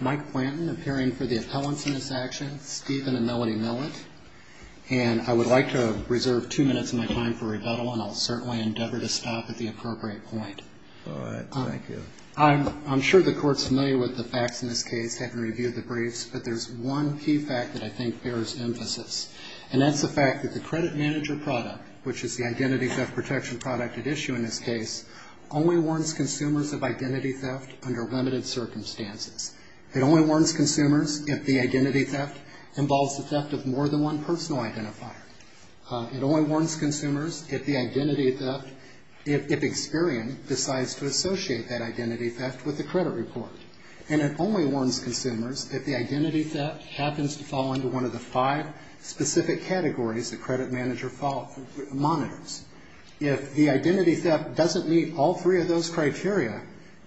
Mike Planton, appearing for the appellants in this action, Stephen and Melody Millett. And I would like to reserve two minutes of my time for rebuttal, and I'll certainly endeavor to stop at the appropriate point. All right. Thank you. I'm sure the Court's familiar with the facts in this case, having reviewed the briefs, but there's one key fact that I think bears emphasis. And that's the fact that the credit manager product, which is the identity theft protection product at issue in this case, only warns consumers of identity theft under limited circumstances. It only warns consumers if the identity theft involves the theft of more than one personal identifier. It only warns consumers if the identity theft, if Experian decides to associate that identity theft with the credit report. And it only warns consumers if the identity theft happens to fall under one of the five specific categories the credit manager monitors. If the identity theft doesn't meet all three of those criteria,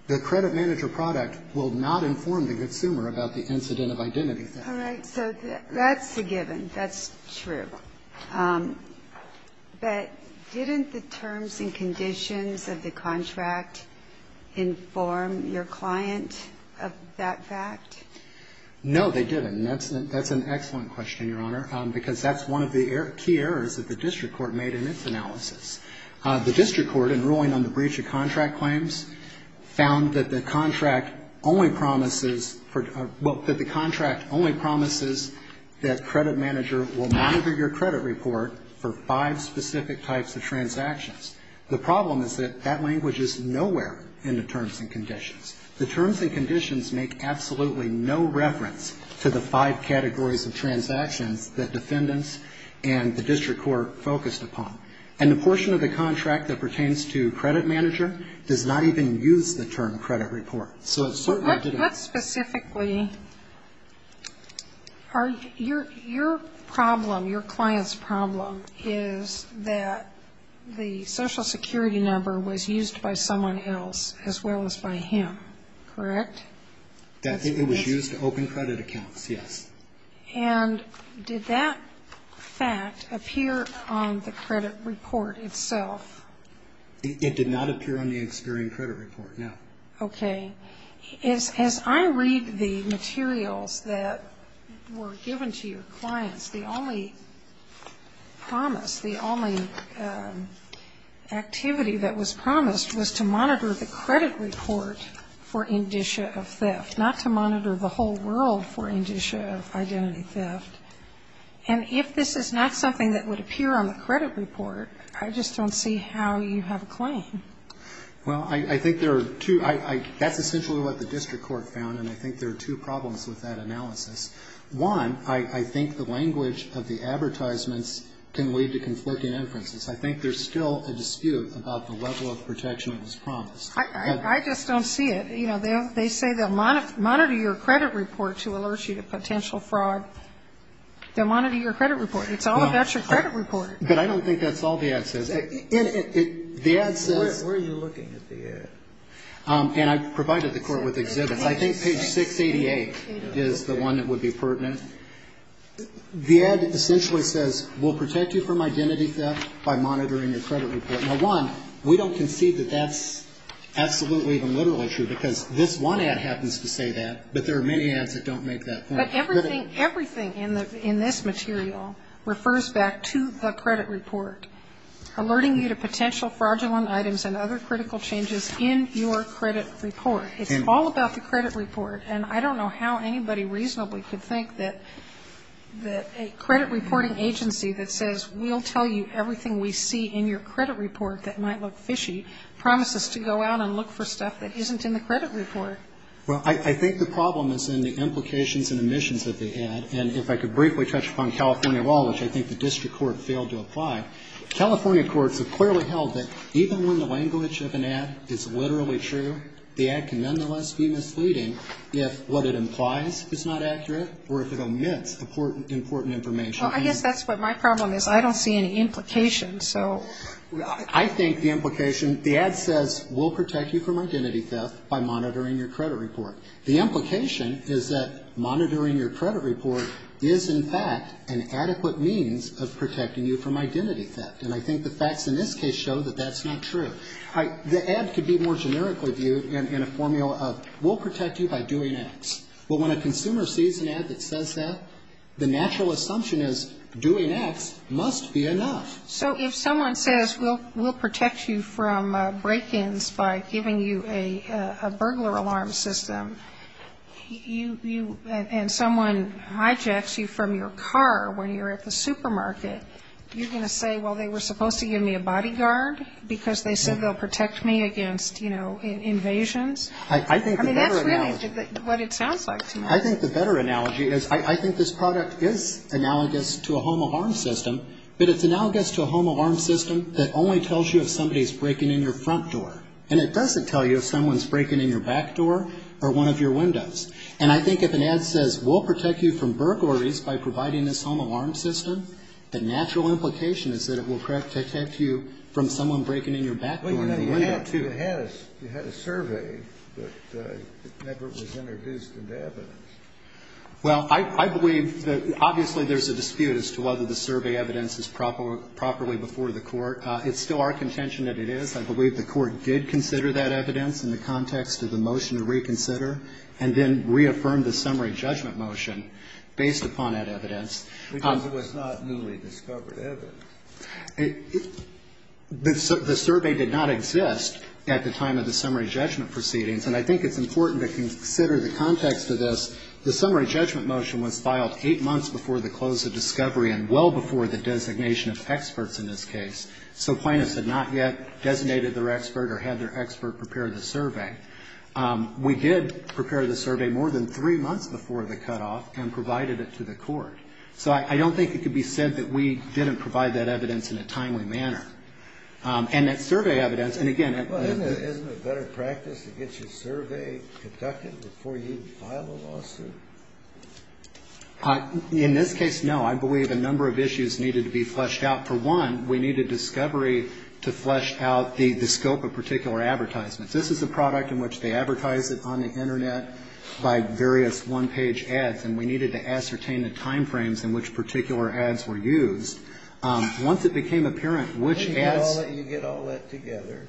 the credit manager product will not inform the consumer about the incident of identity theft. All right. So that's a given. That's true. But didn't the terms and conditions of the contract inform your client of that fact? No, they didn't. And that's an excellent question, Your Honor, because that's one of the key errors that the district court made in its analysis. The district court, in ruling on the breach of contract claims, found that the contract only promises for, well, that the contract only promises that credit manager will monitor your credit report for five specific types of transactions. The problem is that that language is nowhere in the terms and conditions. The terms and conditions make absolutely no reference to the five categories of transactions that defendants and the district court focused upon. And the portion of the contract that pertains to credit manager does not even use the term credit report. But specifically, your problem, your client's problem, is that the Social Security number was used by someone else as well as by him. Correct? It was used to open credit accounts, yes. And did that fact appear on the credit report itself? It did not appear on the Experian credit report, no. Okay. As I read the materials that were given to your clients, the only promise, the only activity that was promised was to monitor the credit report for indicia of theft, not to monitor the whole world for indicia of identity theft. And if this is not something that would appear on the credit report, I just don't see how you have a claim. Well, I think there are two. That's essentially what the district court found, and I think there are two problems with that analysis. One, I think the language of the advertisements can lead to conflicting inferences. I think there's still a dispute about the level of protection that was promised. I just don't see it. You know, they say they'll monitor your credit report to alert you to potential fraud. They'll monitor your credit report. It's all about your credit report. But I don't think that's all the ad says. Where are you looking at the ad? And I provided the court with exhibits. I think page 688 is the one that would be pertinent. The ad essentially says we'll protect you from identity theft by monitoring your credit report. Now, one, we don't concede that that's absolutely even literally true, because this one ad happens to say that, but there are many ads that don't make that point. But everything in this material refers back to the credit report. It says we'll be alerting you to potential fraudulent items and other critical changes in your credit report. It's all about the credit report. And I don't know how anybody reasonably could think that a credit reporting agency that says, we'll tell you everything we see in your credit report that might look fishy, promises to go out and look for stuff that isn't in the credit report. Well, I think the problem is in the implications and omissions of the ad. And if I could briefly touch upon California law, which I think the district court failed to apply, California courts have clearly held that even when the language of an ad is literally true, the ad can nonetheless be misleading if what it implies is not accurate or if it omits important information. Well, I guess that's what my problem is. I don't see any implications. So I think the implication, the ad says we'll protect you from identity theft by monitoring your credit report. The implication is that monitoring your credit report is, in fact, an adequate means of protecting you from identity theft. And I think the facts in this case show that that's not true. The ad could be more generically viewed in a formula of we'll protect you by doing X. Well, when a consumer sees an ad that says that, the natural assumption is doing X must be enough. So if someone says we'll protect you from break-ins by giving you a burglar alarm system, and someone hijacks you from your car when you're at the supermarket, you're going to say, well, they were supposed to give me a bodyguard because they said they'll protect me against, you know, invasions? I mean, that's really what it sounds like to me. I think the better analogy is I think this product is analogous to a home of harm system, but it's analogous to a home alarm system that only tells you if somebody's breaking in your front door. And it doesn't tell you if someone's breaking in your back door or one of your windows. And I think if an ad says we'll protect you from burglaries by providing this home alarm system, the natural implication is that it will protect you from someone breaking in your back door. Well, you had a survey, but it never was introduced into evidence. Well, I believe that obviously there's a dispute as to whether the survey evidence is properly before the Court. It's still our contention that it is. I believe the Court did consider that evidence in the context of the motion to reconsider and then reaffirmed the summary judgment motion based upon that evidence. Because it was not newly discovered evidence. The survey did not exist at the time of the summary judgment proceedings. And I think it's important to consider the context of this. The summary judgment motion was filed eight months before the close of discovery and well before the designation of experts in this case. So plaintiffs had not yet designated their expert or had their expert prepare the survey. We did prepare the survey more than three months before the cutoff and provided it to the Court. So I don't think it could be said that we didn't provide that evidence in a timely manner. And that survey evidence, and again at the Isn't it better practice to get your survey conducted before you file a lawsuit? In this case, no. I believe a number of issues needed to be fleshed out. For one, we needed discovery to flesh out the scope of particular advertisements. This is a product in which they advertise it on the Internet by various one-page ads, and we needed to ascertain the time frames in which particular ads were used. Once it became apparent which ads Then you get all that together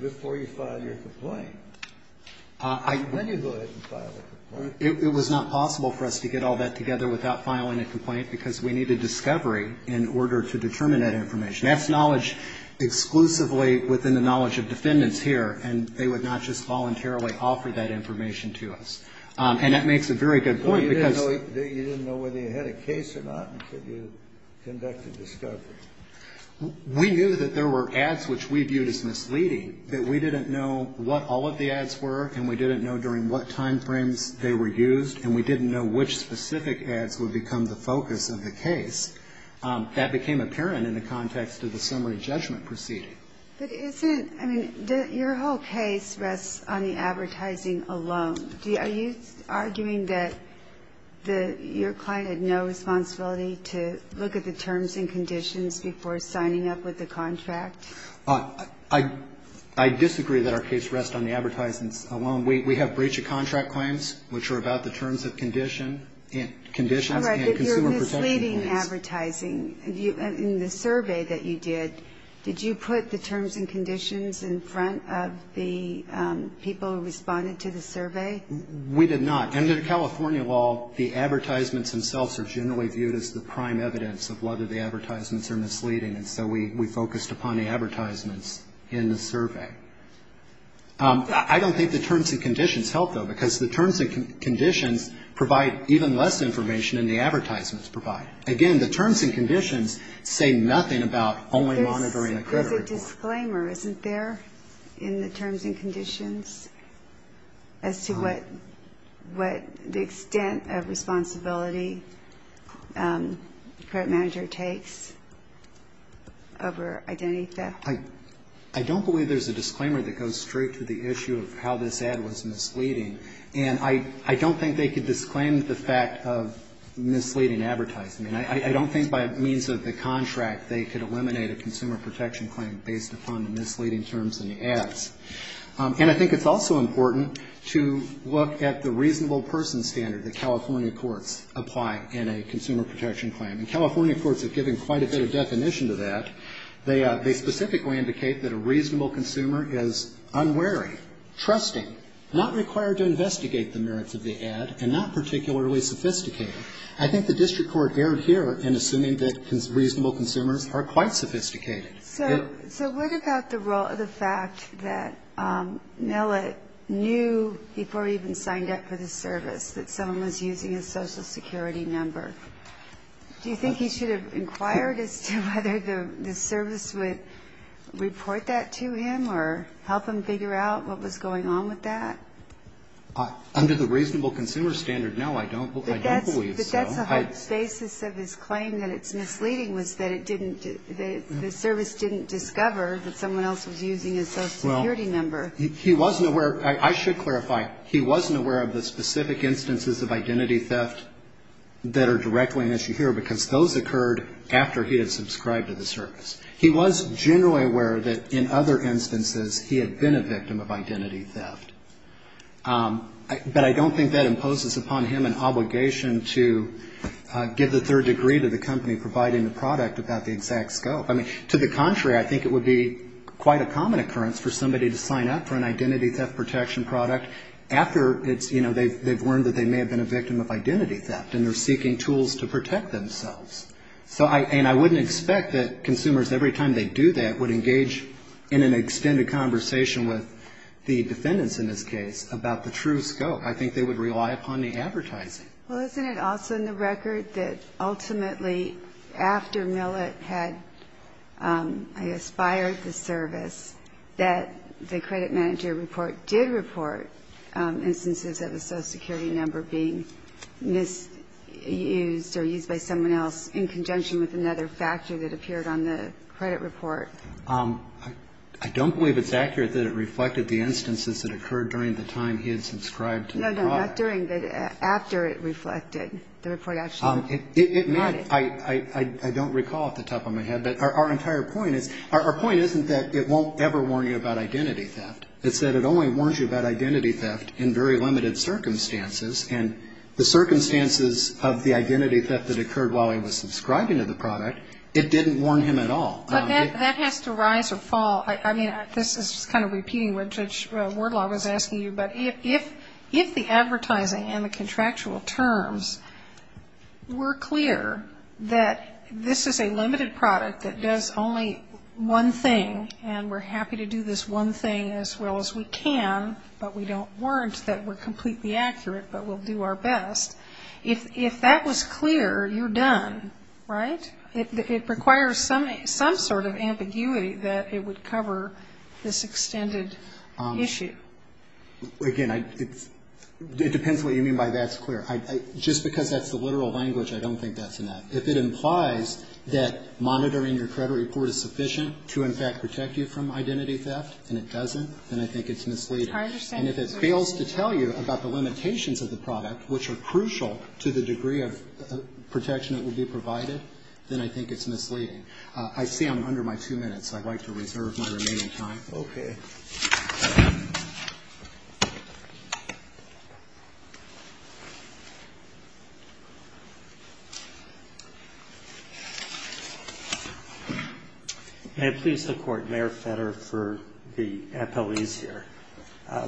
before you file your complaint. Then you go ahead and file a complaint. It was not possible for us to get all that together without filing a complaint because we needed discovery in order to determine that information. That's knowledge exclusively within the knowledge of defendants here, and they would not just voluntarily offer that information to us. And that makes a very good point because So you didn't know whether you had a case or not until you conducted discovery. We knew that there were ads which we viewed as misleading, that we didn't know what all of the ads were, and we didn't know during what time frames they were used, and we didn't know which specific ads would become the focus of the case. That became apparent in the context of the summary judgment proceeding. But isn't, I mean, your whole case rests on the advertising alone. Are you arguing that your client had no responsibility to look at the terms and conditions before signing up with the contract? I disagree that our case rests on the advertisements alone. We have breach of contract claims, which are about the terms and conditions and consumer protection claims. All right, but you're misleading advertising. In the survey that you did, did you put the terms and conditions in front of the people who responded to the survey? We did not. Under the California law, the advertisements themselves are generally viewed as the prime evidence of whether the advertisements are misleading, and so we focused upon the advertisements in the survey. I don't think the terms and conditions help, though, because the terms and conditions provide even less information than the advertisements provide. Again, the terms and conditions say nothing about only monitoring the credit report. There's a disclaimer, isn't there, in the terms and conditions, as to what the extent of responsibility the credit manager takes over identity theft? I don't believe there's a disclaimer that goes straight to the issue of how this ad was misleading, and I don't think they could disclaim the fact of misleading advertising. I mean, I don't think by means of the contract they could eliminate a consumer protection claim based upon the misleading terms in the ads. And I think it's also important to look at the reasonable person standard that California courts apply in a consumer protection claim. And California courts have given quite a bit of definition to that. They specifically indicate that a reasonable consumer is unwary, trusting, not required to investigate the merits of the ad, and not particularly sophisticated. I think the district court erred here in assuming that reasonable consumers are quite sophisticated. So what about the fact that Millet knew before he even signed up for the service that someone was using his Social Security number? Do you think he should have inquired as to whether the service would report that to him or help him figure out what was going on with that? Under the reasonable consumer standard, no, I don't believe so. But that's the whole basis of his claim, that it's misleading, was that it didn't the service didn't discover that someone else was using his Social Security number. He wasn't aware, I should clarify, he wasn't aware of the specific instances of identity theft that are directly an issue here because those occurred after he had subscribed to the service. He was generally aware that in other instances he had been a victim of identity theft. But I don't think that imposes upon him an obligation to give the third degree to the company providing the product about the exact scope. I mean, to the contrary, I think it would be quite a common occurrence for somebody to sign up for an identity theft protection product after it's, you know, they've learned that they may have been a victim of identity theft and they're seeking tools to protect themselves. So, and I wouldn't expect that consumers, every time they do that, would engage in an extended conversation with the defendants in this case about the true scope. I think they would rely upon the advertising. Well, isn't it also in the record that ultimately after Millett had, I guess, fired the service, that the credit manager report did report instances of a Social Security number being misused or used by someone else in conjunction with another factor that appeared on the credit report? I don't believe it's accurate that it reflected the instances that occurred during the time he had subscribed to the product. No, no, not during, but after it reflected, the report actually noted. It meant, I don't recall off the top of my head, but our entire point is, our point isn't that it won't ever warn you about identity theft. It's that it only warns you about identity theft in very limited circumstances. And the circumstances of the identity theft that occurred while he was subscribing to the product, it didn't warn him at all. But that has to rise or fall. I mean, this is kind of repeating what Judge Wardlaw was asking you, but if the advertising and the contractual terms were clear that this is a limited product that does only one thing, and we're happy to do this one thing as well as we can, but we don't warrant that we're completely accurate, but we'll do our best, if that was clear, you're done, right? It requires some sort of ambiguity that it would cover this extended issue. Again, it depends what you mean by that's clear. Just because that's the literal language, I don't think that's enough. If it implies that monitoring your credit report is sufficient to, in fact, protect you from identity theft and it doesn't, then I think it's misleading. And if it fails to tell you about the limitations of the product, which are crucial to the degree of protection that will be provided, then I think it's misleading. I see I'm under my two minutes. I'd like to reserve my remaining time. Okay. May it please the Court, Mayor Fetter for the appellees here. I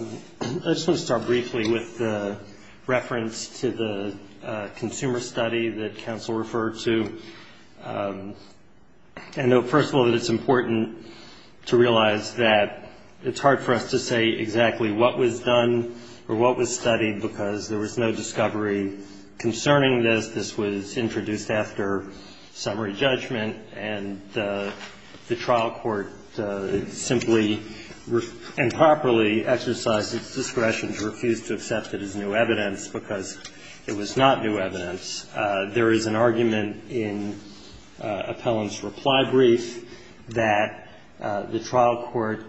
just want to start briefly with the reference to the consumer study that counsel referred to. I know, first of all, that it's important to realize that it's hard for us to say exactly what was done or what was studied because there was no discovery concerning this. This was introduced after summary judgment, and the trial court simply and properly exercised its discretion to refuse to accept it as new evidence because it was not new evidence. There is an argument in Appellant's reply brief that the trial court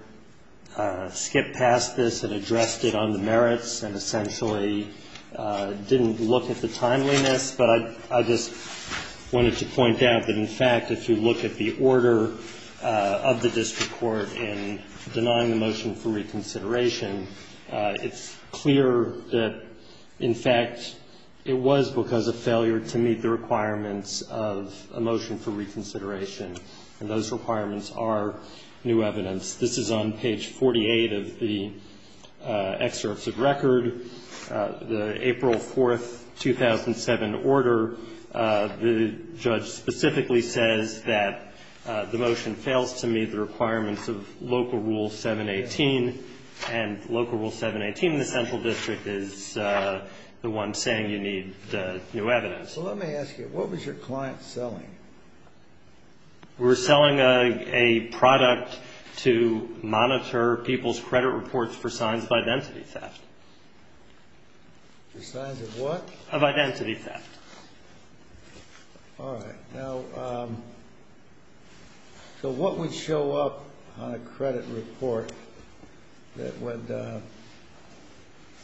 skipped past this and addressed it on the merits and essentially didn't look at the timeliness. But I just wanted to point out that, in fact, if you look at the order of the district court in denying the motion for reconsideration, it's clear that, in fact, it was because of failure to meet the requirements of a motion for reconsideration, and those requirements are new evidence. This is on page 48 of the excerpts of record. The April 4, 2007 order, the judge specifically says that the motion fails to meet the requirements of local rule 718 and local rule 718 in the central district is the one saying you need new evidence. Let me ask you, what was your client selling? We were selling a product to monitor people's credit reports for signs of identity theft. For signs of what? Of identity theft. All right. Now, so what would show up on a credit report that would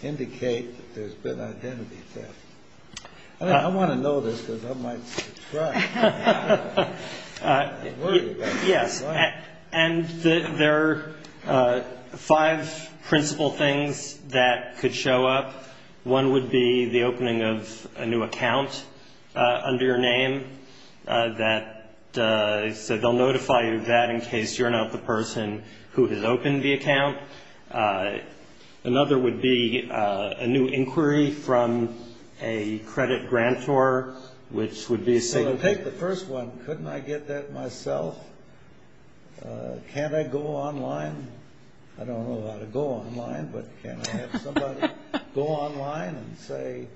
indicate that there's been identity theft? I want to know this because I might subtract. Yes, and there are five principal things that could show up. One would be the opening of a new account under your name that they'll notify you of that in case you're not the person who has opened the account. Another would be a new inquiry from a credit grantor, which would be a signal. So I'll take the first one. Couldn't I get that myself? Can't I go online? I don't know how to go online, but can't I have somebody go online and say,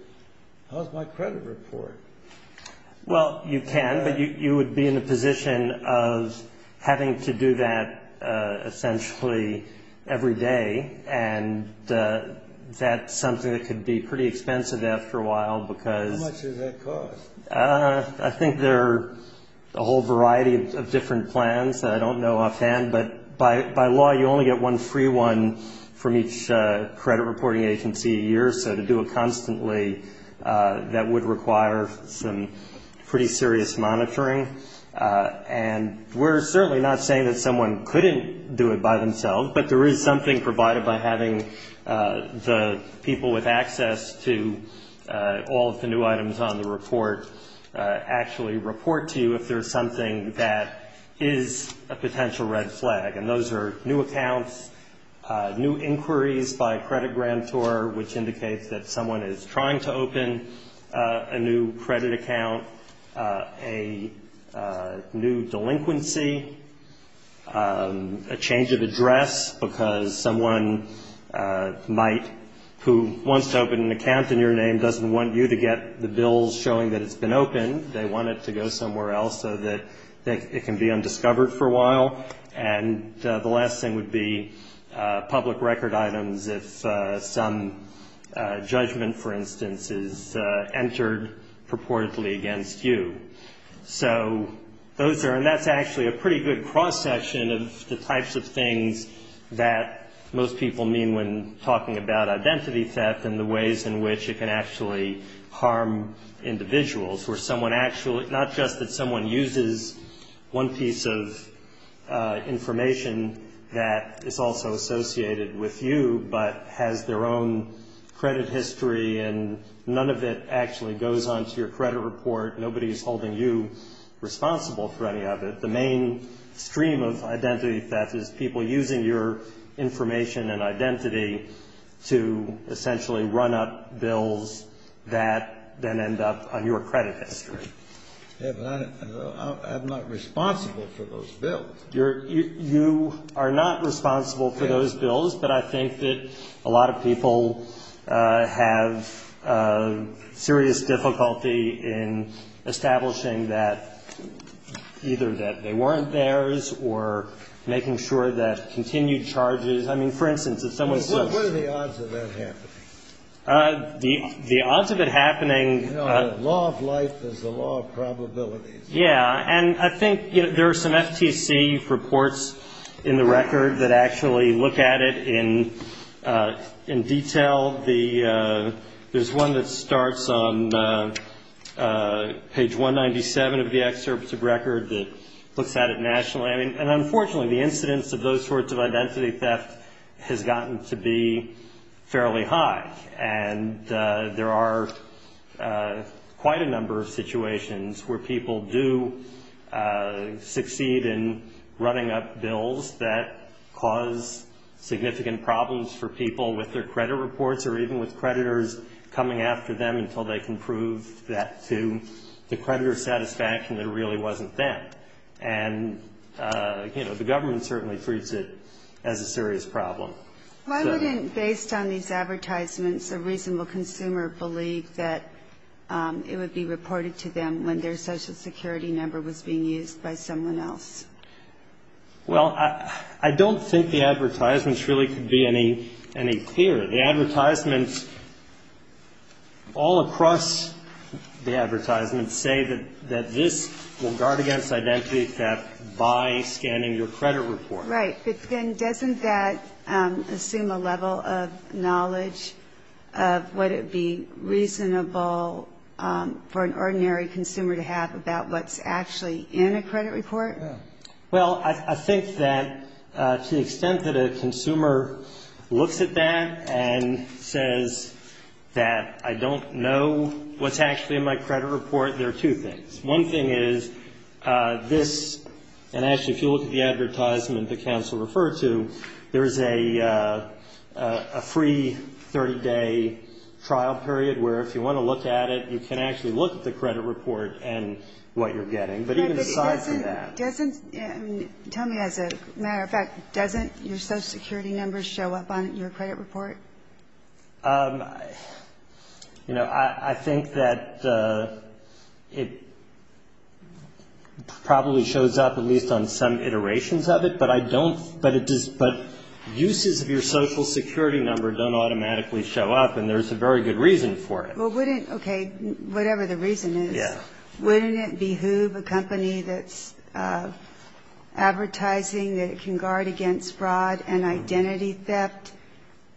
how's my credit report? Well, you can, but you would be in a position of having to do that essentially every day, and that's something that could be pretty expensive after a while because. How much does that cost? I think there are a whole variety of different plans. I don't know offhand, but by law you only get one free one from each credit reporting agency a year, so to do it constantly, that would require some pretty serious monitoring. And we're certainly not saying that someone couldn't do it by themselves, but there is something provided by having the people with access to all of the new items on the report actually report to you if there's something that is a potential red flag, and those are new accounts, new inquiries by a credit grantor, which indicates that someone is trying to open a new credit account, a new delinquency, a change of address because someone might who wants to open an account in your name doesn't want you to get the bills showing that it's been opened. They want it to go somewhere else so that it can be undiscovered for a while. And the last thing would be public record items if some judgment, for instance, is entered purportedly against you. So those are, and that's actually a pretty good cross-section of the types of things that most people mean when talking about identity theft and the ways in which it can actually harm individuals, where someone actually, not just that someone uses one piece of information that is also associated with you, but has their own credit history and none of it actually goes on to your credit report. Nobody is holding you responsible for any of it. The main stream of identity theft is people using your information and identity to essentially run up bills that then end up on your credit history. Yeah, but I'm not responsible for those bills. You are not responsible for those bills, but I think that a lot of people have serious difficulty in establishing that either that they weren't theirs or making sure that continued charges, I mean, for instance, if someone says to you. What are the odds of that happening? The odds of it happening. You know, the law of life is the law of probabilities. Yeah, and I think there are some FTC reports in the record that actually look at it in detail. There's one that starts on page 197 of the excerpt of record that looks at it nationally. And unfortunately, the incidence of those sorts of identity theft has gotten to be fairly high. And there are quite a number of situations where people do succeed in running up bills that cause significant problems for people with their credit reports or even with creditors coming after them until they can prove that to the creditor's satisfaction that it really wasn't them. And, you know, the government certainly treats it as a serious problem. Why wouldn't, based on these advertisements, a reasonable consumer believe that it would be reported to them when their social security number was being used by someone else? Well, I don't think the advertisements really could be any clearer. The advertisements all across the advertisements say that this will guard against identity theft by scanning your credit report. Right. But then doesn't that assume a level of knowledge of would it be reasonable for an ordinary consumer to have about what's actually in a credit report? Well, I think that to the extent that a consumer looks at that and says that I don't know what's actually in my credit report, there are two things. One thing is this, and actually if you look at the advertisement that counsel referred to, there is a free 30-day trial period where if you want to look at it, you can actually look at the credit report and what you're getting. But even aside from that. Doesn't, tell me as a matter of fact, doesn't your social security number show up on your credit report? You know, I think that it probably shows up at least on some iterations of it, but I don't, but uses of your social security number don't automatically show up, and there's a very good reason for it. Well, wouldn't, okay, whatever the reason is, wouldn't it behoove a company that's advertising that it can guard against fraud and identity theft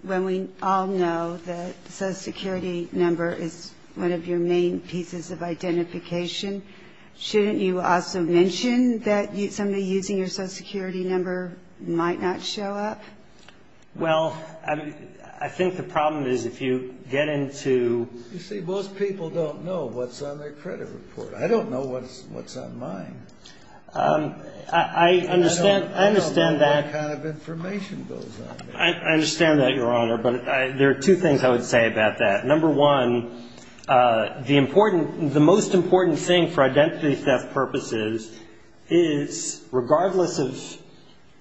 when we all know that social security number is one of your main pieces of identification? Shouldn't you also mention that somebody using your social security number might not show up? Well, I think the problem is if you get into. You see, most people don't know what's on their credit report. I don't know what's on mine. I understand that. I don't know what kind of information goes on there. I understand that, Your Honor, but there are two things I would say about that. Number one, the important, the most important thing for identity theft is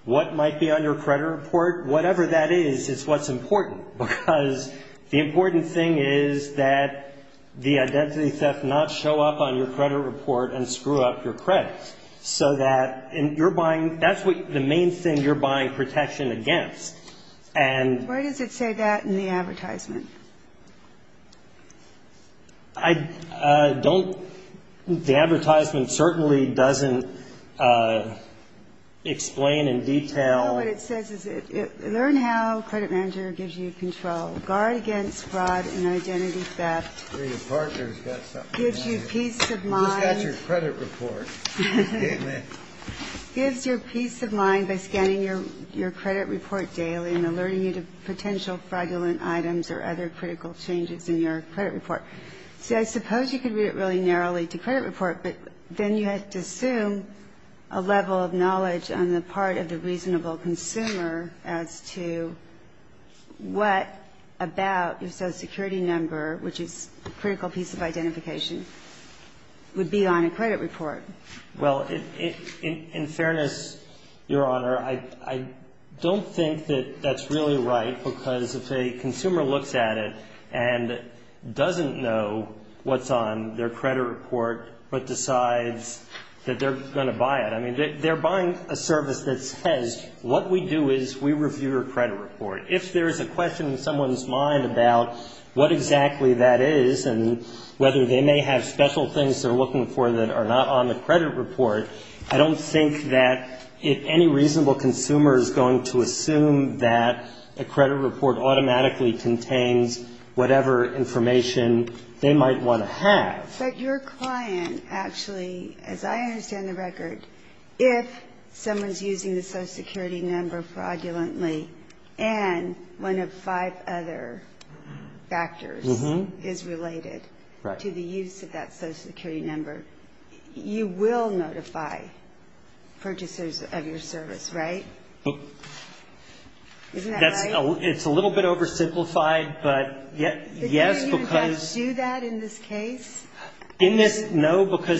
that your credit report, whatever that is, is what's important, because the important thing is that the identity theft not show up on your credit report and screw up your credit, so that you're buying, that's what the main thing you're buying protection against. And. Where does it say that in the advertisement? I don't. The advertisement certainly doesn't explain in detail. No, what it says is learn how credit manager gives you control. Guard against fraud and identity theft. Gives you peace of mind. Who's got your credit report? Gives you peace of mind by scanning your credit report daily and alerting you to potential fraudulent items or other critical changes in your credit report. See, I suppose you could read it really narrowly to credit report, but then you have to assume a level of knowledge on the part of the reasonable consumer as to what about, if so, security number, which is a critical piece of identification. Well, in fairness, Your Honor, I don't think that that's really right, because if a consumer looks at it and doesn't know what's on their credit report, but decides that they're going to buy it, I mean, they're buying a service that says, what we do is we review your credit report. If there's a question in someone's mind about what exactly that is and whether they may have special things they're looking for in their credit report, that are not on the credit report, I don't think that any reasonable consumer is going to assume that a credit report automatically contains whatever information they might want to have. But your client, actually, as I understand the record, if someone's using the social security number fraudulently, and one of five other factors is related to the use of that social security number, you will notify purchasers of your service, right? Isn't that right? It's a little bit oversimplified, but yes, because no, because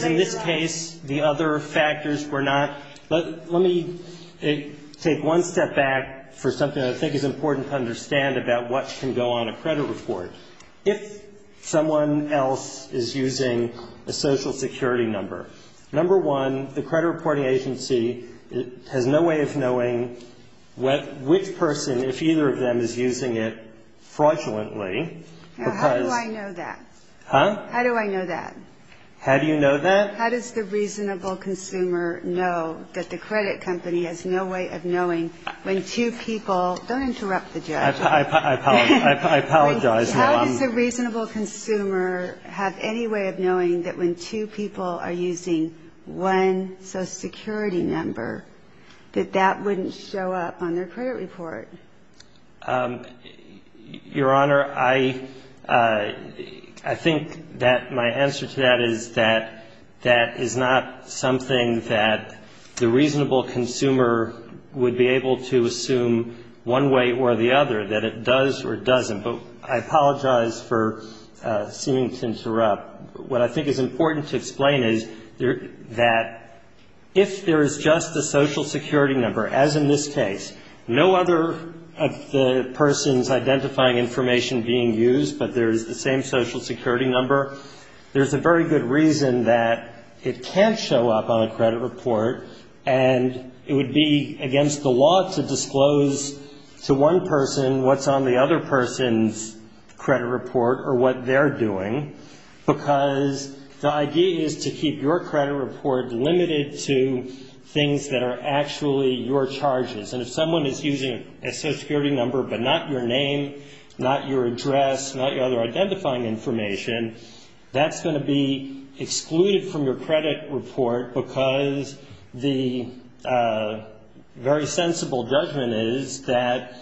in this case, the other factors were not. Let me take one step back for something I think is important to understand about what can go on a credit report. If someone else is using a social security number, number one, the credit reporting agency has no way of knowing which person, if either of them is using it fraudulently because how do I know that? How does the reasonable consumer know that the credit company has no way of knowing when two people, don't interrupt the judge. I apologize. How does the reasonable consumer have any way of knowing that when two people are using one social security number, that that wouldn't show up on their credit report? Your Honor, I think that my answer to that is that that is not something that the reasonable consumer would be able to assume one way or the other. That it does or doesn't, but I apologize for seeming to interrupt. What I think is important to explain is that if there is just a social security number, as in this case, no other of the persons identifying information being used, but there is the same social security number, there's a very good reason that it can't show up on a credit report, and it would be against the law to disclose to one person what's on the other person's credit report or what they're doing, because the idea is to keep your credit report limited to things that are actually your charges. And if someone is using a social security number, but not your name, not your address, not your other identifying information, that's going to be the very sensible judgment is that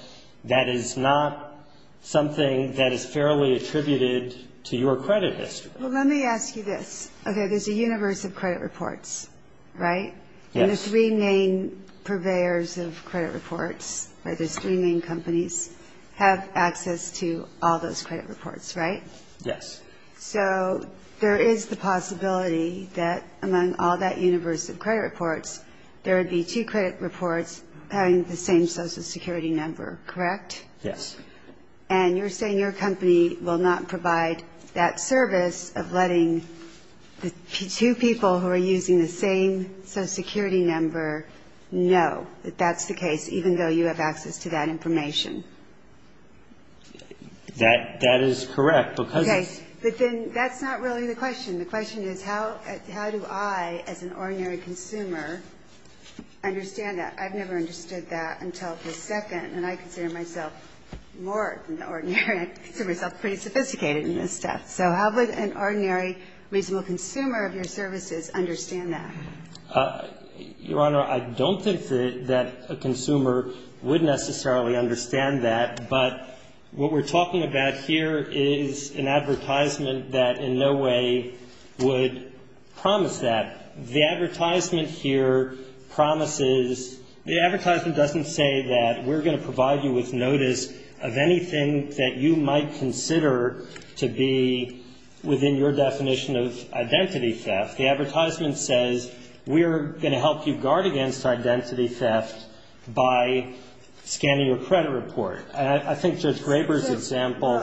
that is not something that is fairly attributed to your credit history. Well, let me ask you this. Okay, there's a universe of credit reports, right? And the three main purveyors of credit reports, right, there's three main companies, have access to all those credit reports, right? Yes. And you're saying your company will not provide that service of letting the two people who are using the same social security number know that that's the case, even though you have access to that information. That is correct, because it's --- I don't think that a consumer would necessarily understand that, but what we're talking about here is an advertisement that in no way would promise that. The advertisement here promises, the advertisement doesn't say that we're going to provide you with notice of anything that you might consider to be within your definition of identity theft. The advertisement says we're going to help you guard against identity theft by scanning your credit report. And I think Judge Graber's example ----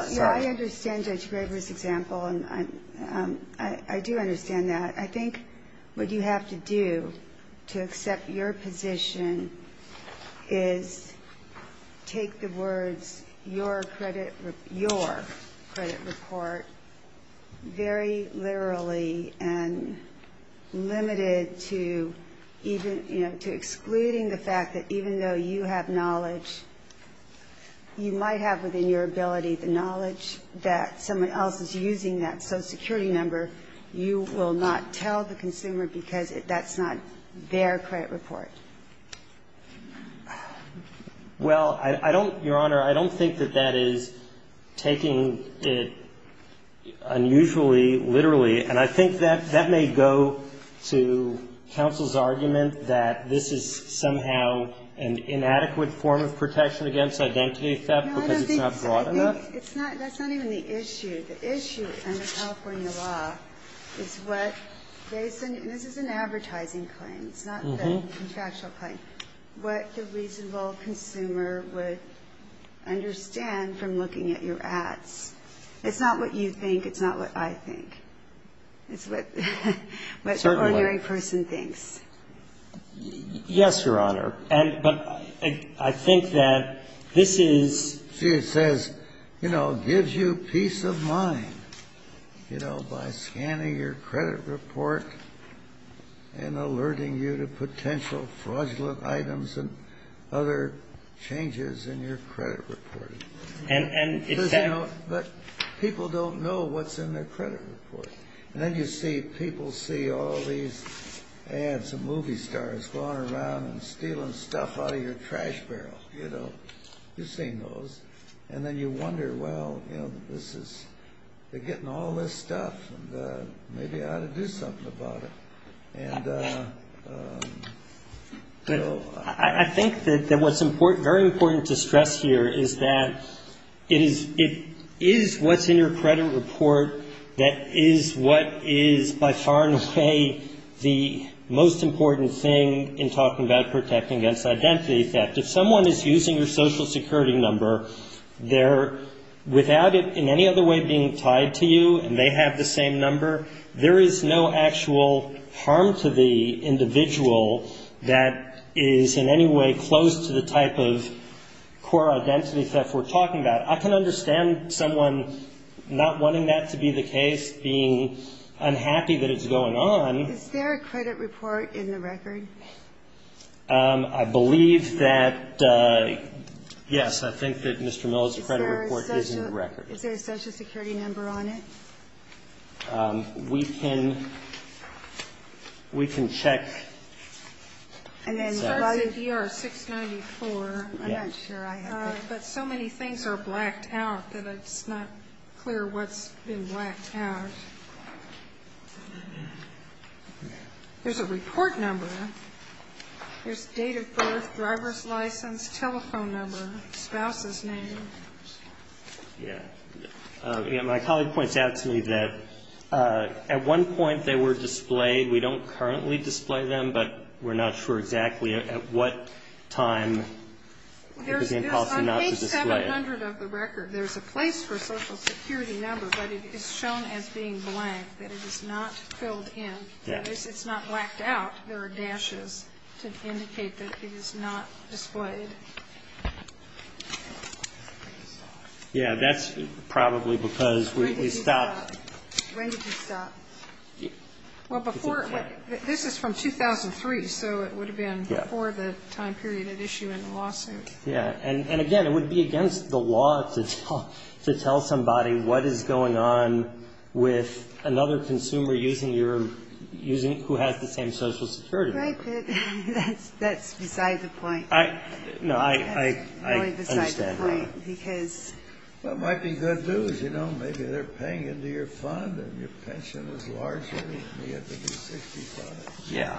what you have to do to accept your position is take the words your credit report very literally and limited to even, you know, to excluding the fact that even though you have knowledge, you might have within your ability the knowledge that someone else is using that social security number, you will not tell the consumer because that's not their credit report. Well, I don't ---- Your Honor, I don't think that that is taking it unusually literally, and I think that that may go to counsel's argument that this is somehow an inadequate form of protection against identity theft because it's not broad enough. It's not ---- that's not even the issue. The issue under California law is what they ---- this is an advertising claim. It's not the contractual claim. What the reasonable consumer would understand from looking at your ads. It's not what you think. It's not what I think. It's what the ordinary person thinks. Yes, Your Honor. But I think that this is ---- See, it says, you know, gives you peace of mind, you know, by scanning your credit report and alerting you to potential fraudulent items and other changes in your credit report. And it says, you know, that people don't know what's in their credit report. And then you see people see all these ads of movie stars going around and stealing stuff out of your trash barrel, you know. You've seen those. And then you wonder, well, you know, this is ---- they're getting all this stuff, and maybe I ought to do something about it. And so I think that what's very important to stress here is that it is what's in your credit report that is what is by far and away the most important thing in talking about protecting against identity theft. If someone is using your Social Security number, they're without it in any other way being tied to you, and they have the same number, there is no actual harm to the individual that is in any way close to the type of core identity theft we're talking about. I can understand someone not wanting that to be the case, being unhappy that it's going on. Is there a credit report in the record? I believe that, yes, I think that Mr. Miller's credit report is in the record. Is there a Social Security number on it? We can check. And then by the DR-694, I'm not sure I have it. But so many things are blacked out that it's not clear what's been blacked out. There's a report number. There's date of birth, driver's license, telephone number, spouse's name. Yeah. My colleague points out to me that at one point they were displayed. We don't currently display them, but we're not sure exactly at what time it was impossible not to display it. On page 700 of the record, there's a place for a Social Security number, but it is shown as being blank, that it is not filled in. It's not blacked out. There are dashes to indicate that it is not displayed. Yeah. That's probably because we stopped. When did you stop? Well, before. This is from 2003, so it would have been before the time period at issue in the lawsuit. Yeah. And, again, it would be against the law to tell somebody what is going on with another consumer who has the same Social Security number. Right, but that's beside the point. No, I understand that. That's really beside the point, because. Well, it might be good news. You know, maybe they're paying into your fund and your pension is larger and you have to be 65. Yeah.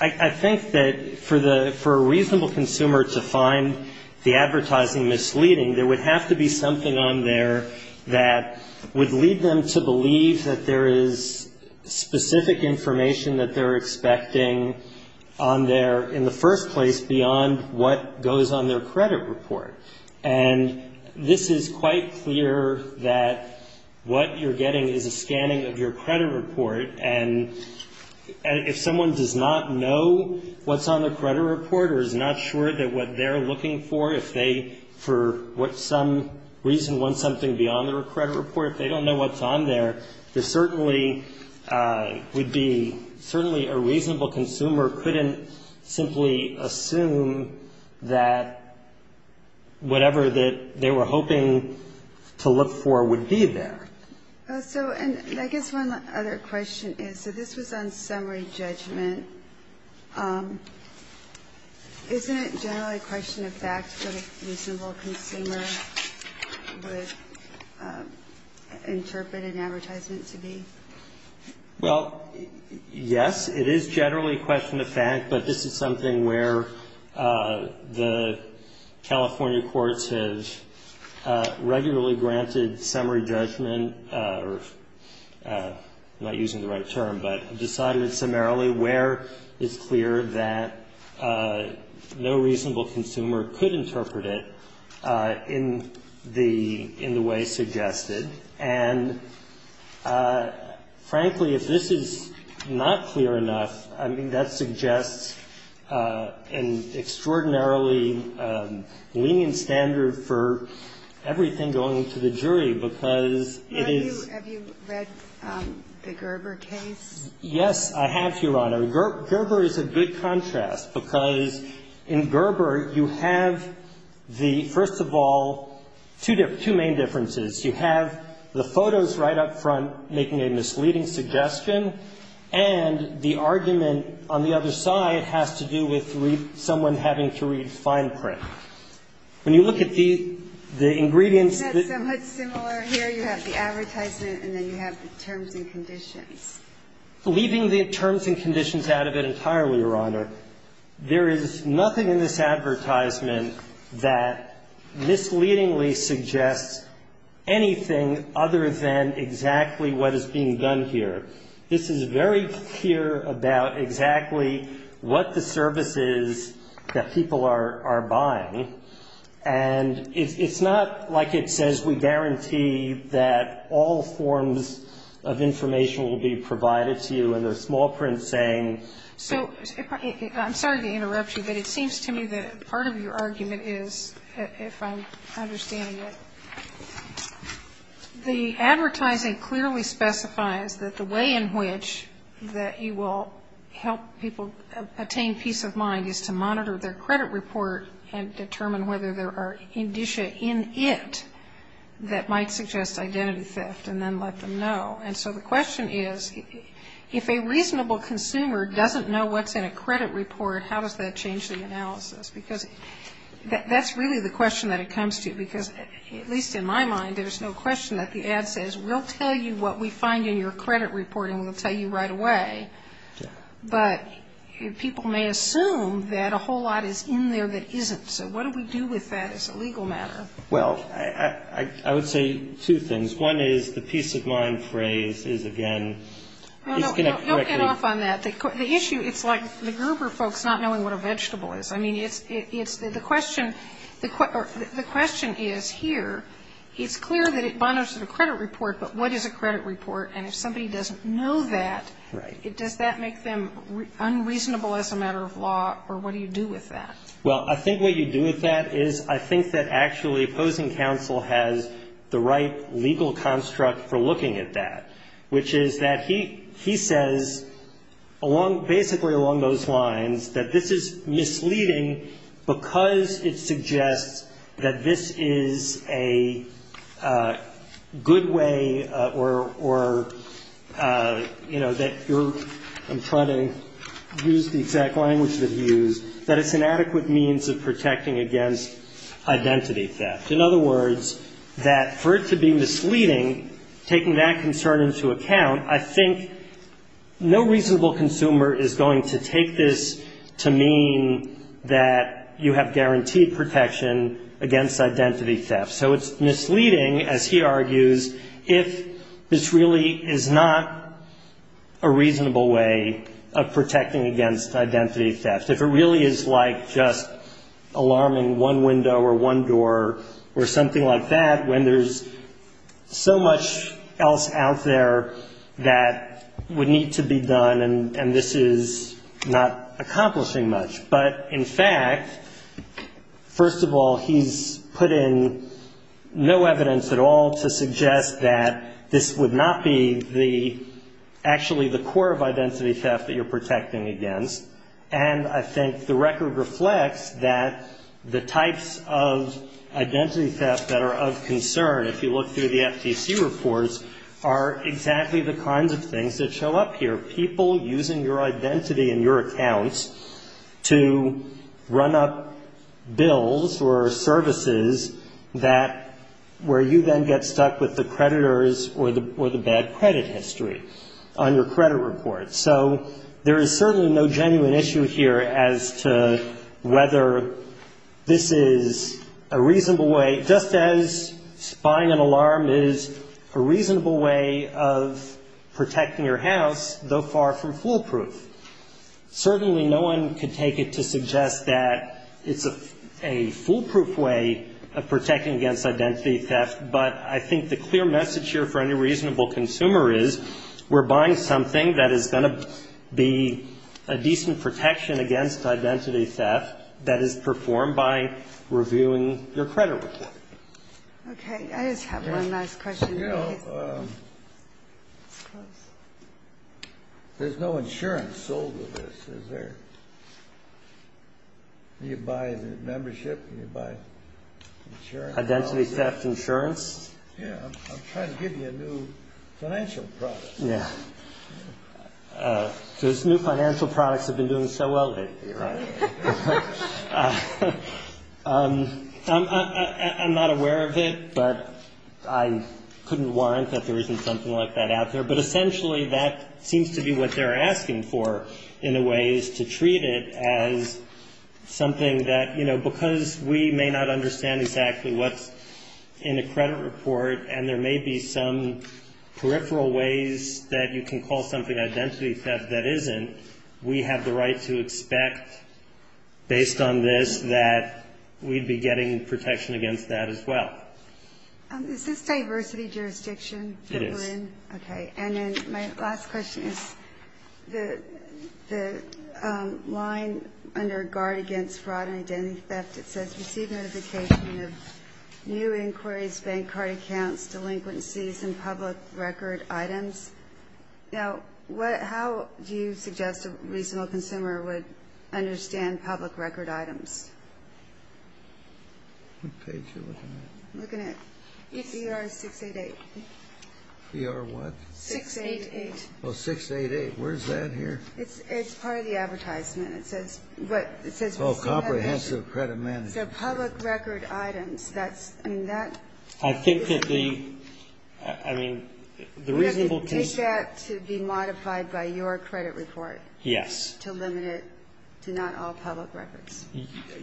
I think that for a reasonable consumer to find the advertising misleading, there would have to be something on there that would lead them to believe that there is specific information that they're expecting on their, in the first place, beyond what goes on their credit report. And this is quite clear that what you're getting is a scanning of your credit report, and if someone does not know what's on their credit report or is not sure that what they're looking for, if they, for some reason, want something beyond their credit report, if they don't know what's on there, there certainly would be, certainly a reasonable consumer couldn't simply assume that whatever that they were hoping to look for would be there. So, and I guess one other question is, so this was on summary judgment. Isn't it generally a question of fact what a reasonable consumer would interpret an advertisement to be? Well, yes, it is generally a question of fact, but this is something where the California courts have regularly granted summary judgment, or I'm not using the right term, but decided summarily where it's clear that no reasonable consumer could interpret it in the way suggested. And frankly, if this is not clear enough, I mean, that suggests an extraordinarily lenient standard for everything going to the jury, because it is. Have you read the Gerber case? Yes, I have, Your Honor. Gerber is a good contrast, because in Gerber you have the, first of all, two main differences. You have the photos right up front making a misleading suggestion, and the argument on the other side has to do with someone having to read fine print. When you look at the ingredients that. It's somewhat similar. Here you have the advertisement, and then you have the terms and conditions. Leaving the terms and conditions out of it entirely, Your Honor, there is nothing in this advertisement that misleadingly suggests anything other than exactly what is being done here. This is very clear about exactly what the service is that people are buying, and it's not like it says we guarantee that all forms of information will be provided to you in the small print saying. So I'm sorry to interrupt you, but it seems to me that part of your argument is, if I'm understanding it, the advertising clearly specifies that the way in which that you will help people attain peace of mind is to monitor their credit report and determine whether there are indicia in it that might suggest identity theft, and then let them know. And so the question is, if a reasonable consumer doesn't know what's in a credit report, how does that change the analysis? Because that's really the question that it comes to, because at least in my mind, there's no question that the ad says, we'll tell you what we find in your credit report, and we'll tell you right away. But people may assume that a whole lot is in there that isn't. So what do we do with that as a legal matter? Well, I would say two things. One is the peace of mind phrase is, again, disconnect correctly. No, no. You'll get off on that. The issue, it's like the Gerber folks not knowing what a vegetable is. I mean, it's the question, the question is here, it's clear that it bonds to the credit report, but what is a credit report? And if somebody doesn't know that, does that make them unreasonable as a matter of law, or what do you do with that? Well, I think what you do with that is, I think that actually opposing counsel has the right legal construct for looking at that, which is that he says along basically along those lines that this is misleading because it suggests that this is a good way or, you know, that you're, I'm trying to use the exact language that he used, that it's an adequate means of protecting against identity theft. In other words, that for it to be misleading, taking that concern into account, I think no reasonable consumer is going to take this to mean that you have guaranteed protection against identity theft. So it's misleading, as he argues, if this really is not a reasonable way of protecting against identity theft. If it really is like just alarming one window or one door or something like that when there's so much else out there that would need to be done and this is not the case, first of all, he's put in no evidence at all to suggest that this would not be the, actually the core of identity theft that you're protecting against, and I think the record reflects that the types of identity theft that are of concern, if you look through the FTC reports, are exactly the kinds of things that are, are the kind of criminals or services that, where you then get stuck with the creditors or the bad credit history on your credit report. So there is certainly no genuine issue here as to whether this is a reasonable way, just as spying an alarm is a reasonable way of protecting your house, though far from foolproof. Certainly no one could take it to suggest that it's a foolproof way of protecting against identity theft, but I think the clear message here for any reasonable consumer is we're buying something that is going to be a decent protection against identity theft that is performed by reviewing your credit report. Okay, I just have one last question. You know, there's no insurance sold with this, is there? Do you buy the membership? Do you buy insurance? Identity theft insurance? Yeah, I'm trying to give you a new financial product. Yeah. Those new financial products have been doing so well lately, right? I'm not aware of it, but I couldn't warrant that there isn't something like that out there, but essentially that seems to be what they're asking for in a way is to treat it as something that, you know, because we may not understand exactly what's in a credit report, and there may be some peripheral ways that you can call something identity theft that isn't, we have the right to expect, based on this, that we'd be getting protection against that as well. Is this diversity jurisdiction? It is. Okay. And then my last question is the line under Guard Against Fraud and Identity Theft, it says receive notification of new inquiries, bank card accounts, delinquencies, and public record items. Now, how do you suggest a reasonable consumer would understand public record items? What page are you looking at? I'm looking at PR 688. PR what? 688. Oh, 688. Where's that here? It's part of the advertisement. It says, what? Oh, comprehensive credit management. So public record items, that's, I mean, that. I think that the, I mean, the reasonable consumer. You have to take that to be modified by your credit report. Yes. To limit it to not all public records.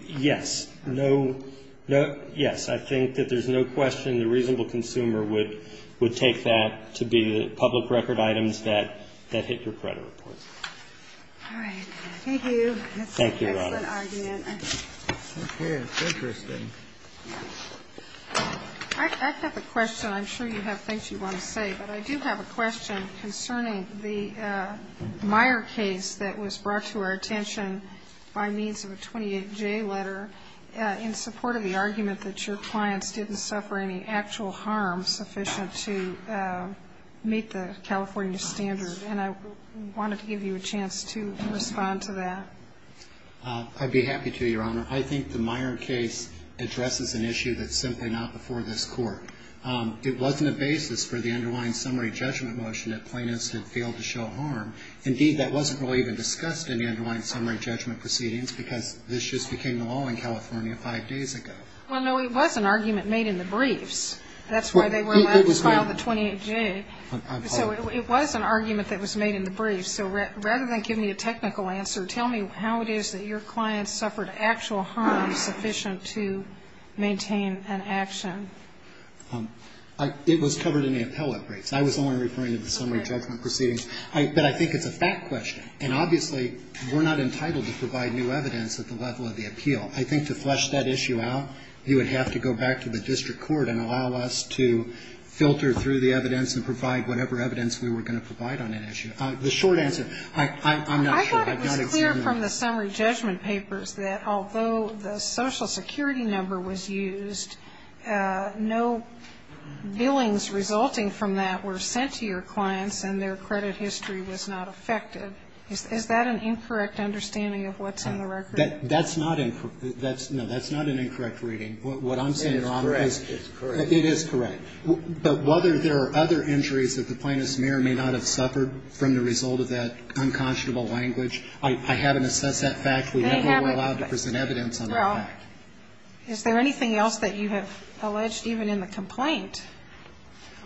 Yes. No, no, yes. I think that there's no question the reasonable consumer would take that to be the public record items that hit your credit report. All right. Thank you. Thank you, Your Honor. That's an excellent argument. Okay. It's interesting. I have a question. I'm sure you have things you want to say. But I do have a question concerning the Meyer case that was brought to our attention by means of a 28J letter in support of the argument that your clients didn't suffer any actual harm sufficient to meet the California standard. And I wanted to give you a chance to respond to that. I'd be happy to, Your Honor. Your Honor, I think the Meyer case addresses an issue that's simply not before this court. It wasn't a basis for the underlying summary judgment motion that plaintiffs had failed to show harm. Indeed, that wasn't really even discussed in the underlying summary judgment proceedings because this just became the law in California five days ago. Well, no, it was an argument made in the briefs. That's why they were allowed to file the 28J. So it was an argument that was made in the briefs. So rather than give me a technical answer, tell me how it is that your clients suffered actual harm sufficient to maintain an action. It was covered in the appellate briefs. I was only referring to the summary judgment proceedings. But I think it's a fact question. And obviously we're not entitled to provide new evidence at the level of the appeal. I think to flesh that issue out, you would have to go back to the district court and allow us to filter through the evidence and provide whatever evidence we were going to provide on that issue. The short answer, I'm not sure. I've not examined it. I thought it was clear from the summary judgment papers that although the Social Security number was used, no billings resulting from that were sent to your clients and their credit history was not affected. Is that an incorrect understanding of what's in the record? That's not an incorrect reading. What I'm saying, Your Honor, is it is correct. But whether there are other injuries that the plaintiff's mirror may not have suffered from the result of that unconscionable language, I haven't assessed that fact. We never were allowed to present evidence on that fact. Well, is there anything else that you have alleged even in the complaint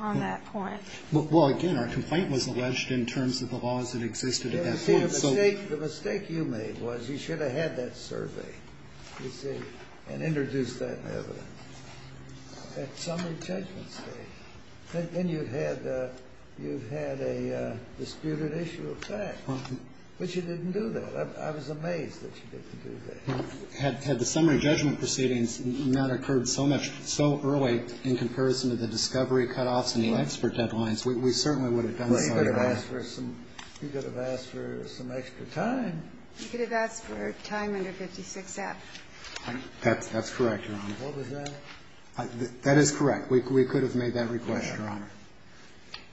on that point? Well, again, our complaint was alleged in terms of the laws that existed at that point. The mistake you made was you should have had that survey, you see, and introduced that evidence. At summary judgment stage. Then you had a disputed issue of fact. But you didn't do that. I was amazed that you didn't do that. Had the summary judgment proceedings not occurred so much, so early in comparison to the discovery cutoffs and the expert deadlines, we certainly would have done so. Well, you could have asked for some extra time. You could have asked for time under 56F. That's correct, Your Honor. What was that? That is correct. We could have made that request, Your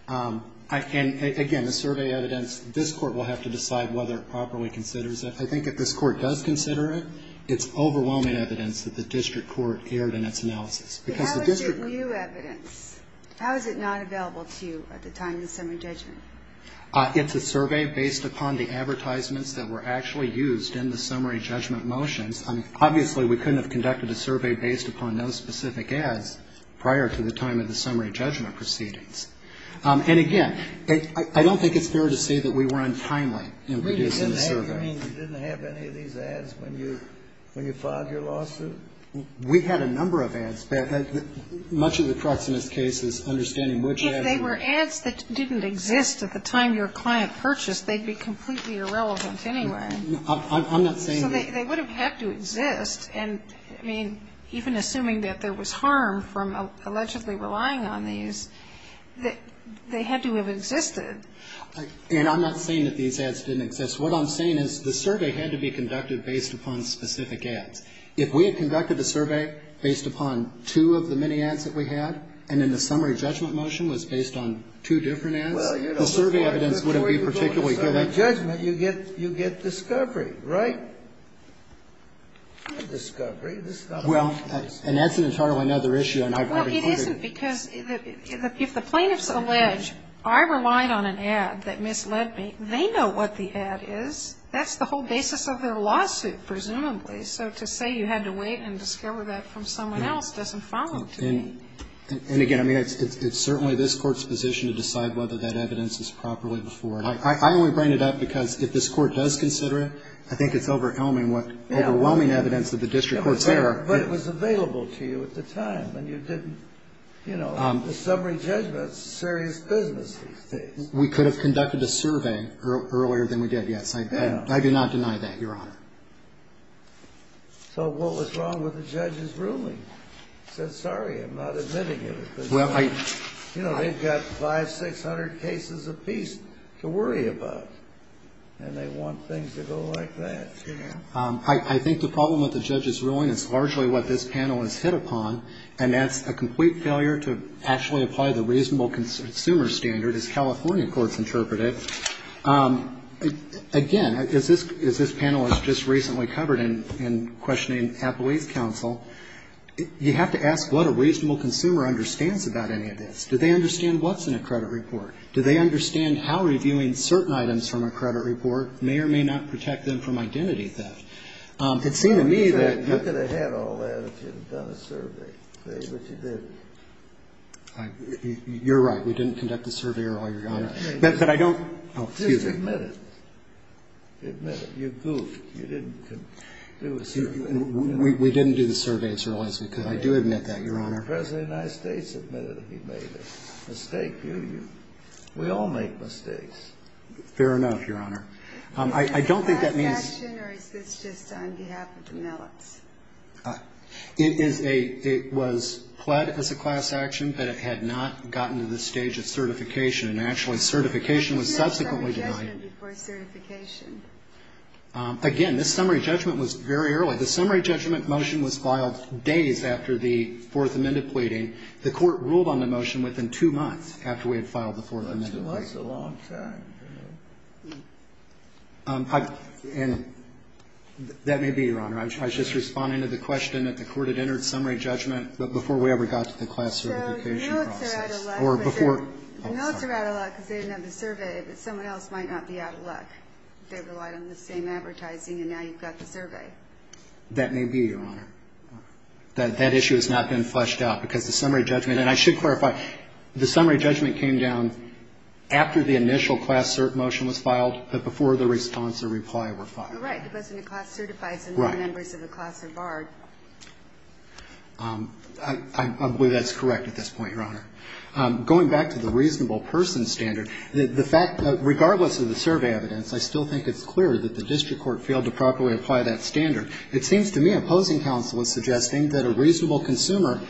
Honor. And, again, the survey evidence, this Court will have to decide whether it properly considers it. I think if this Court does consider it, it's overwhelming evidence that the district court erred in its analysis. How is it new evidence? How is it not available to you at the time of the summary judgment? It's a survey based upon the advertisements that were actually used in the summary judgment motions. Obviously, we couldn't have conducted a survey based upon those specific ads prior to the time of the summary judgment proceedings. And, again, I don't think it's fair to say that we were untimely in producing the survey. You mean you didn't have any of these ads when you filed your lawsuit? We had a number of ads. Much of the crux in this case is understanding which ads were. If they were ads that didn't exist at the time your client purchased, they'd be completely irrelevant anyway. I'm not saying that. So they would have had to exist. And, I mean, even assuming that there was harm from allegedly relying on these, they had to have existed. And I'm not saying that these ads didn't exist. What I'm saying is the survey had to be conducted based upon specific ads. If we had conducted the survey based upon two of the many ads that we had, and then the summary judgment motion was based on two different ads, the survey evidence wouldn't be particularly good. And if you have a summary judgment, you get discovery, right? A discovery. Well, and that's entirely another issue. Well, it isn't, because if the plaintiffs allege I relied on an ad that misled me, they know what the ad is. That's the whole basis of their lawsuit, presumably. So to say you had to wait and discover that from someone else doesn't follow. And, again, I mean, it's certainly this Court's position to decide whether that evidence is properly before it. I only bring it up because if this Court does consider it, I think it's overwhelming what overwhelming evidence that the district courts there are. But it was available to you at the time. And you didn't, you know, the summary judgment is serious business these days. We could have conducted a survey earlier than we did, yes. I do not deny that, Your Honor. So what was wrong with the judge's ruling? He said, sorry, I'm not admitting it. You know, they've got 500, 600 cases apiece to worry about. And they want things to go like that. I think the problem with the judge's ruling is largely what this panel has hit upon, and that's a complete failure to actually apply the reasonable consumer standard, as California courts interpret it. Again, as this panel has just recently covered in questioning Appalachian District Council, you have to ask what a reasonable consumer understands about any of this. Do they understand what's in a credit report? Do they understand how reviewing certain items from a credit report may or may not protect them from identity theft? It seemed to me that you could have had all that if you had done a survey. But you didn't. You're right. We didn't conduct a survey earlier, Your Honor. But I don't. Just admit it. Admit it. You goofed. You didn't do a survey. We didn't do the survey as early as we could. I do admit that, Your Honor. The President of the United States admitted that he made a mistake, didn't he? We all make mistakes. Fair enough, Your Honor. I don't think that means ---- Is this a class action, or is this just on behalf of Demelitz? It is a ---- it was pled as a class action, but it had not gotten to this stage of certification. And actually, certification was subsequently denied. When was summary judgment before certification? Again, this summary judgment was very early. The summary judgment motion was filed days after the Fourth Amendment pleading. The Court ruled on the motion within two months after we had filed the Fourth Amendment pleading. That's a long time. And that may be, Your Honor. I was just responding to the question that the Court had entered summary judgment before we ever got to the class certification process. So the notes are out of luck because they didn't have the survey, but someone else might not be out of luck. They relied on the same advertising, and now you've got the survey. That may be, Your Honor. That issue has not been fleshed out, because the summary judgment ---- and I should clarify. The summary judgment came down after the initial class cert motion was filed, but before the response or reply were filed. Right. It wasn't a class certified, so no members of the class are barred. Right. I believe that's correct at this point, Your Honor. Going back to the reasonable person standard, the fact that regardless of the survey evidence, I still think it's clear that the district court failed to properly apply that standard. It seems to me opposing counsel is suggesting that a reasonable consumer,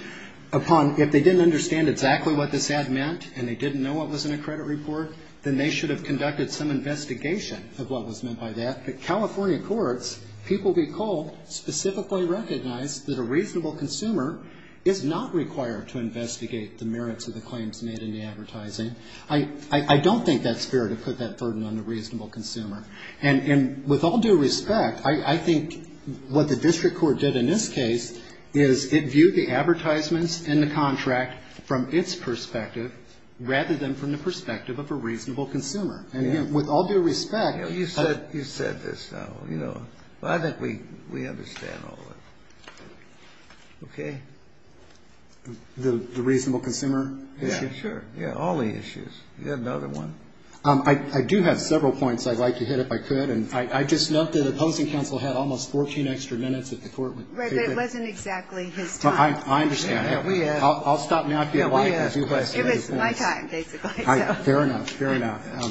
upon ---- if they didn't understand exactly what this ad meant and they didn't know what was in a credit report, then they should have conducted some investigation of what was meant by that. But California courts, people recall, specifically recognized that a reasonable consumer is not required to investigate the merits of the claims made in the advertising. I don't think that's fair to put that burden on the reasonable consumer. And with all due respect, I think what the district court did in this case is it viewed the advertisements and the contract from its perspective rather than from the perspective of a reasonable consumer. And with all due respect ---- You said this now. I think we understand all of it. Okay? The reasonable consumer issue? Yeah, sure. All the issues. You got another one? I do have several points I'd like to hit if I could. And I just note that opposing counsel had almost 14 extra minutes at the court. Right, but it wasn't exactly his time. I understand. I'll stop now if you'd like. It was my time, basically. Fair enough. Fair enough.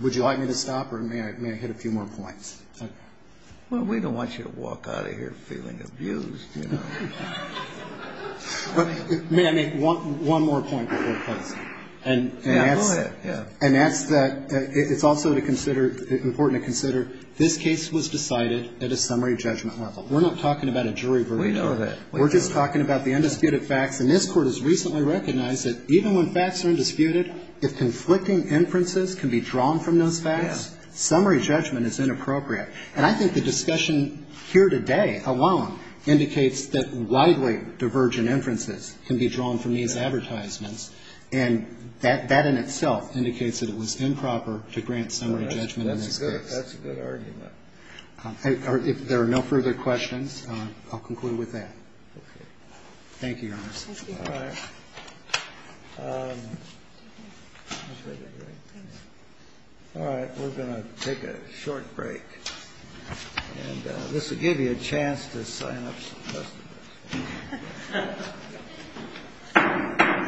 Would you like me to stop or may I hit a few more points? Well, we don't want you to walk out of here feeling abused. May I make one more point before closing? Yeah, go ahead. And that's that it's also important to consider this case was decided at a summary judgment level. We're not talking about a jury verdict. We know that. We're just talking about the undisputed facts. And this Court has recently recognized that even when facts are undisputed, if conflicting inferences can be drawn from those facts, summary judgment is inappropriate. And I think the discussion here today alone indicates that widely divergent inferences can be drawn from these advertisements. And that in itself indicates that it was improper to grant summary judgment in this case. That's a good argument. If there are no further questions, I'll conclude with that. Okay. Thank you, Your Honor. Thank you. All right. All right. We're going to take a short break. And this will give you a chance to sign up for the rest of it. Thank you.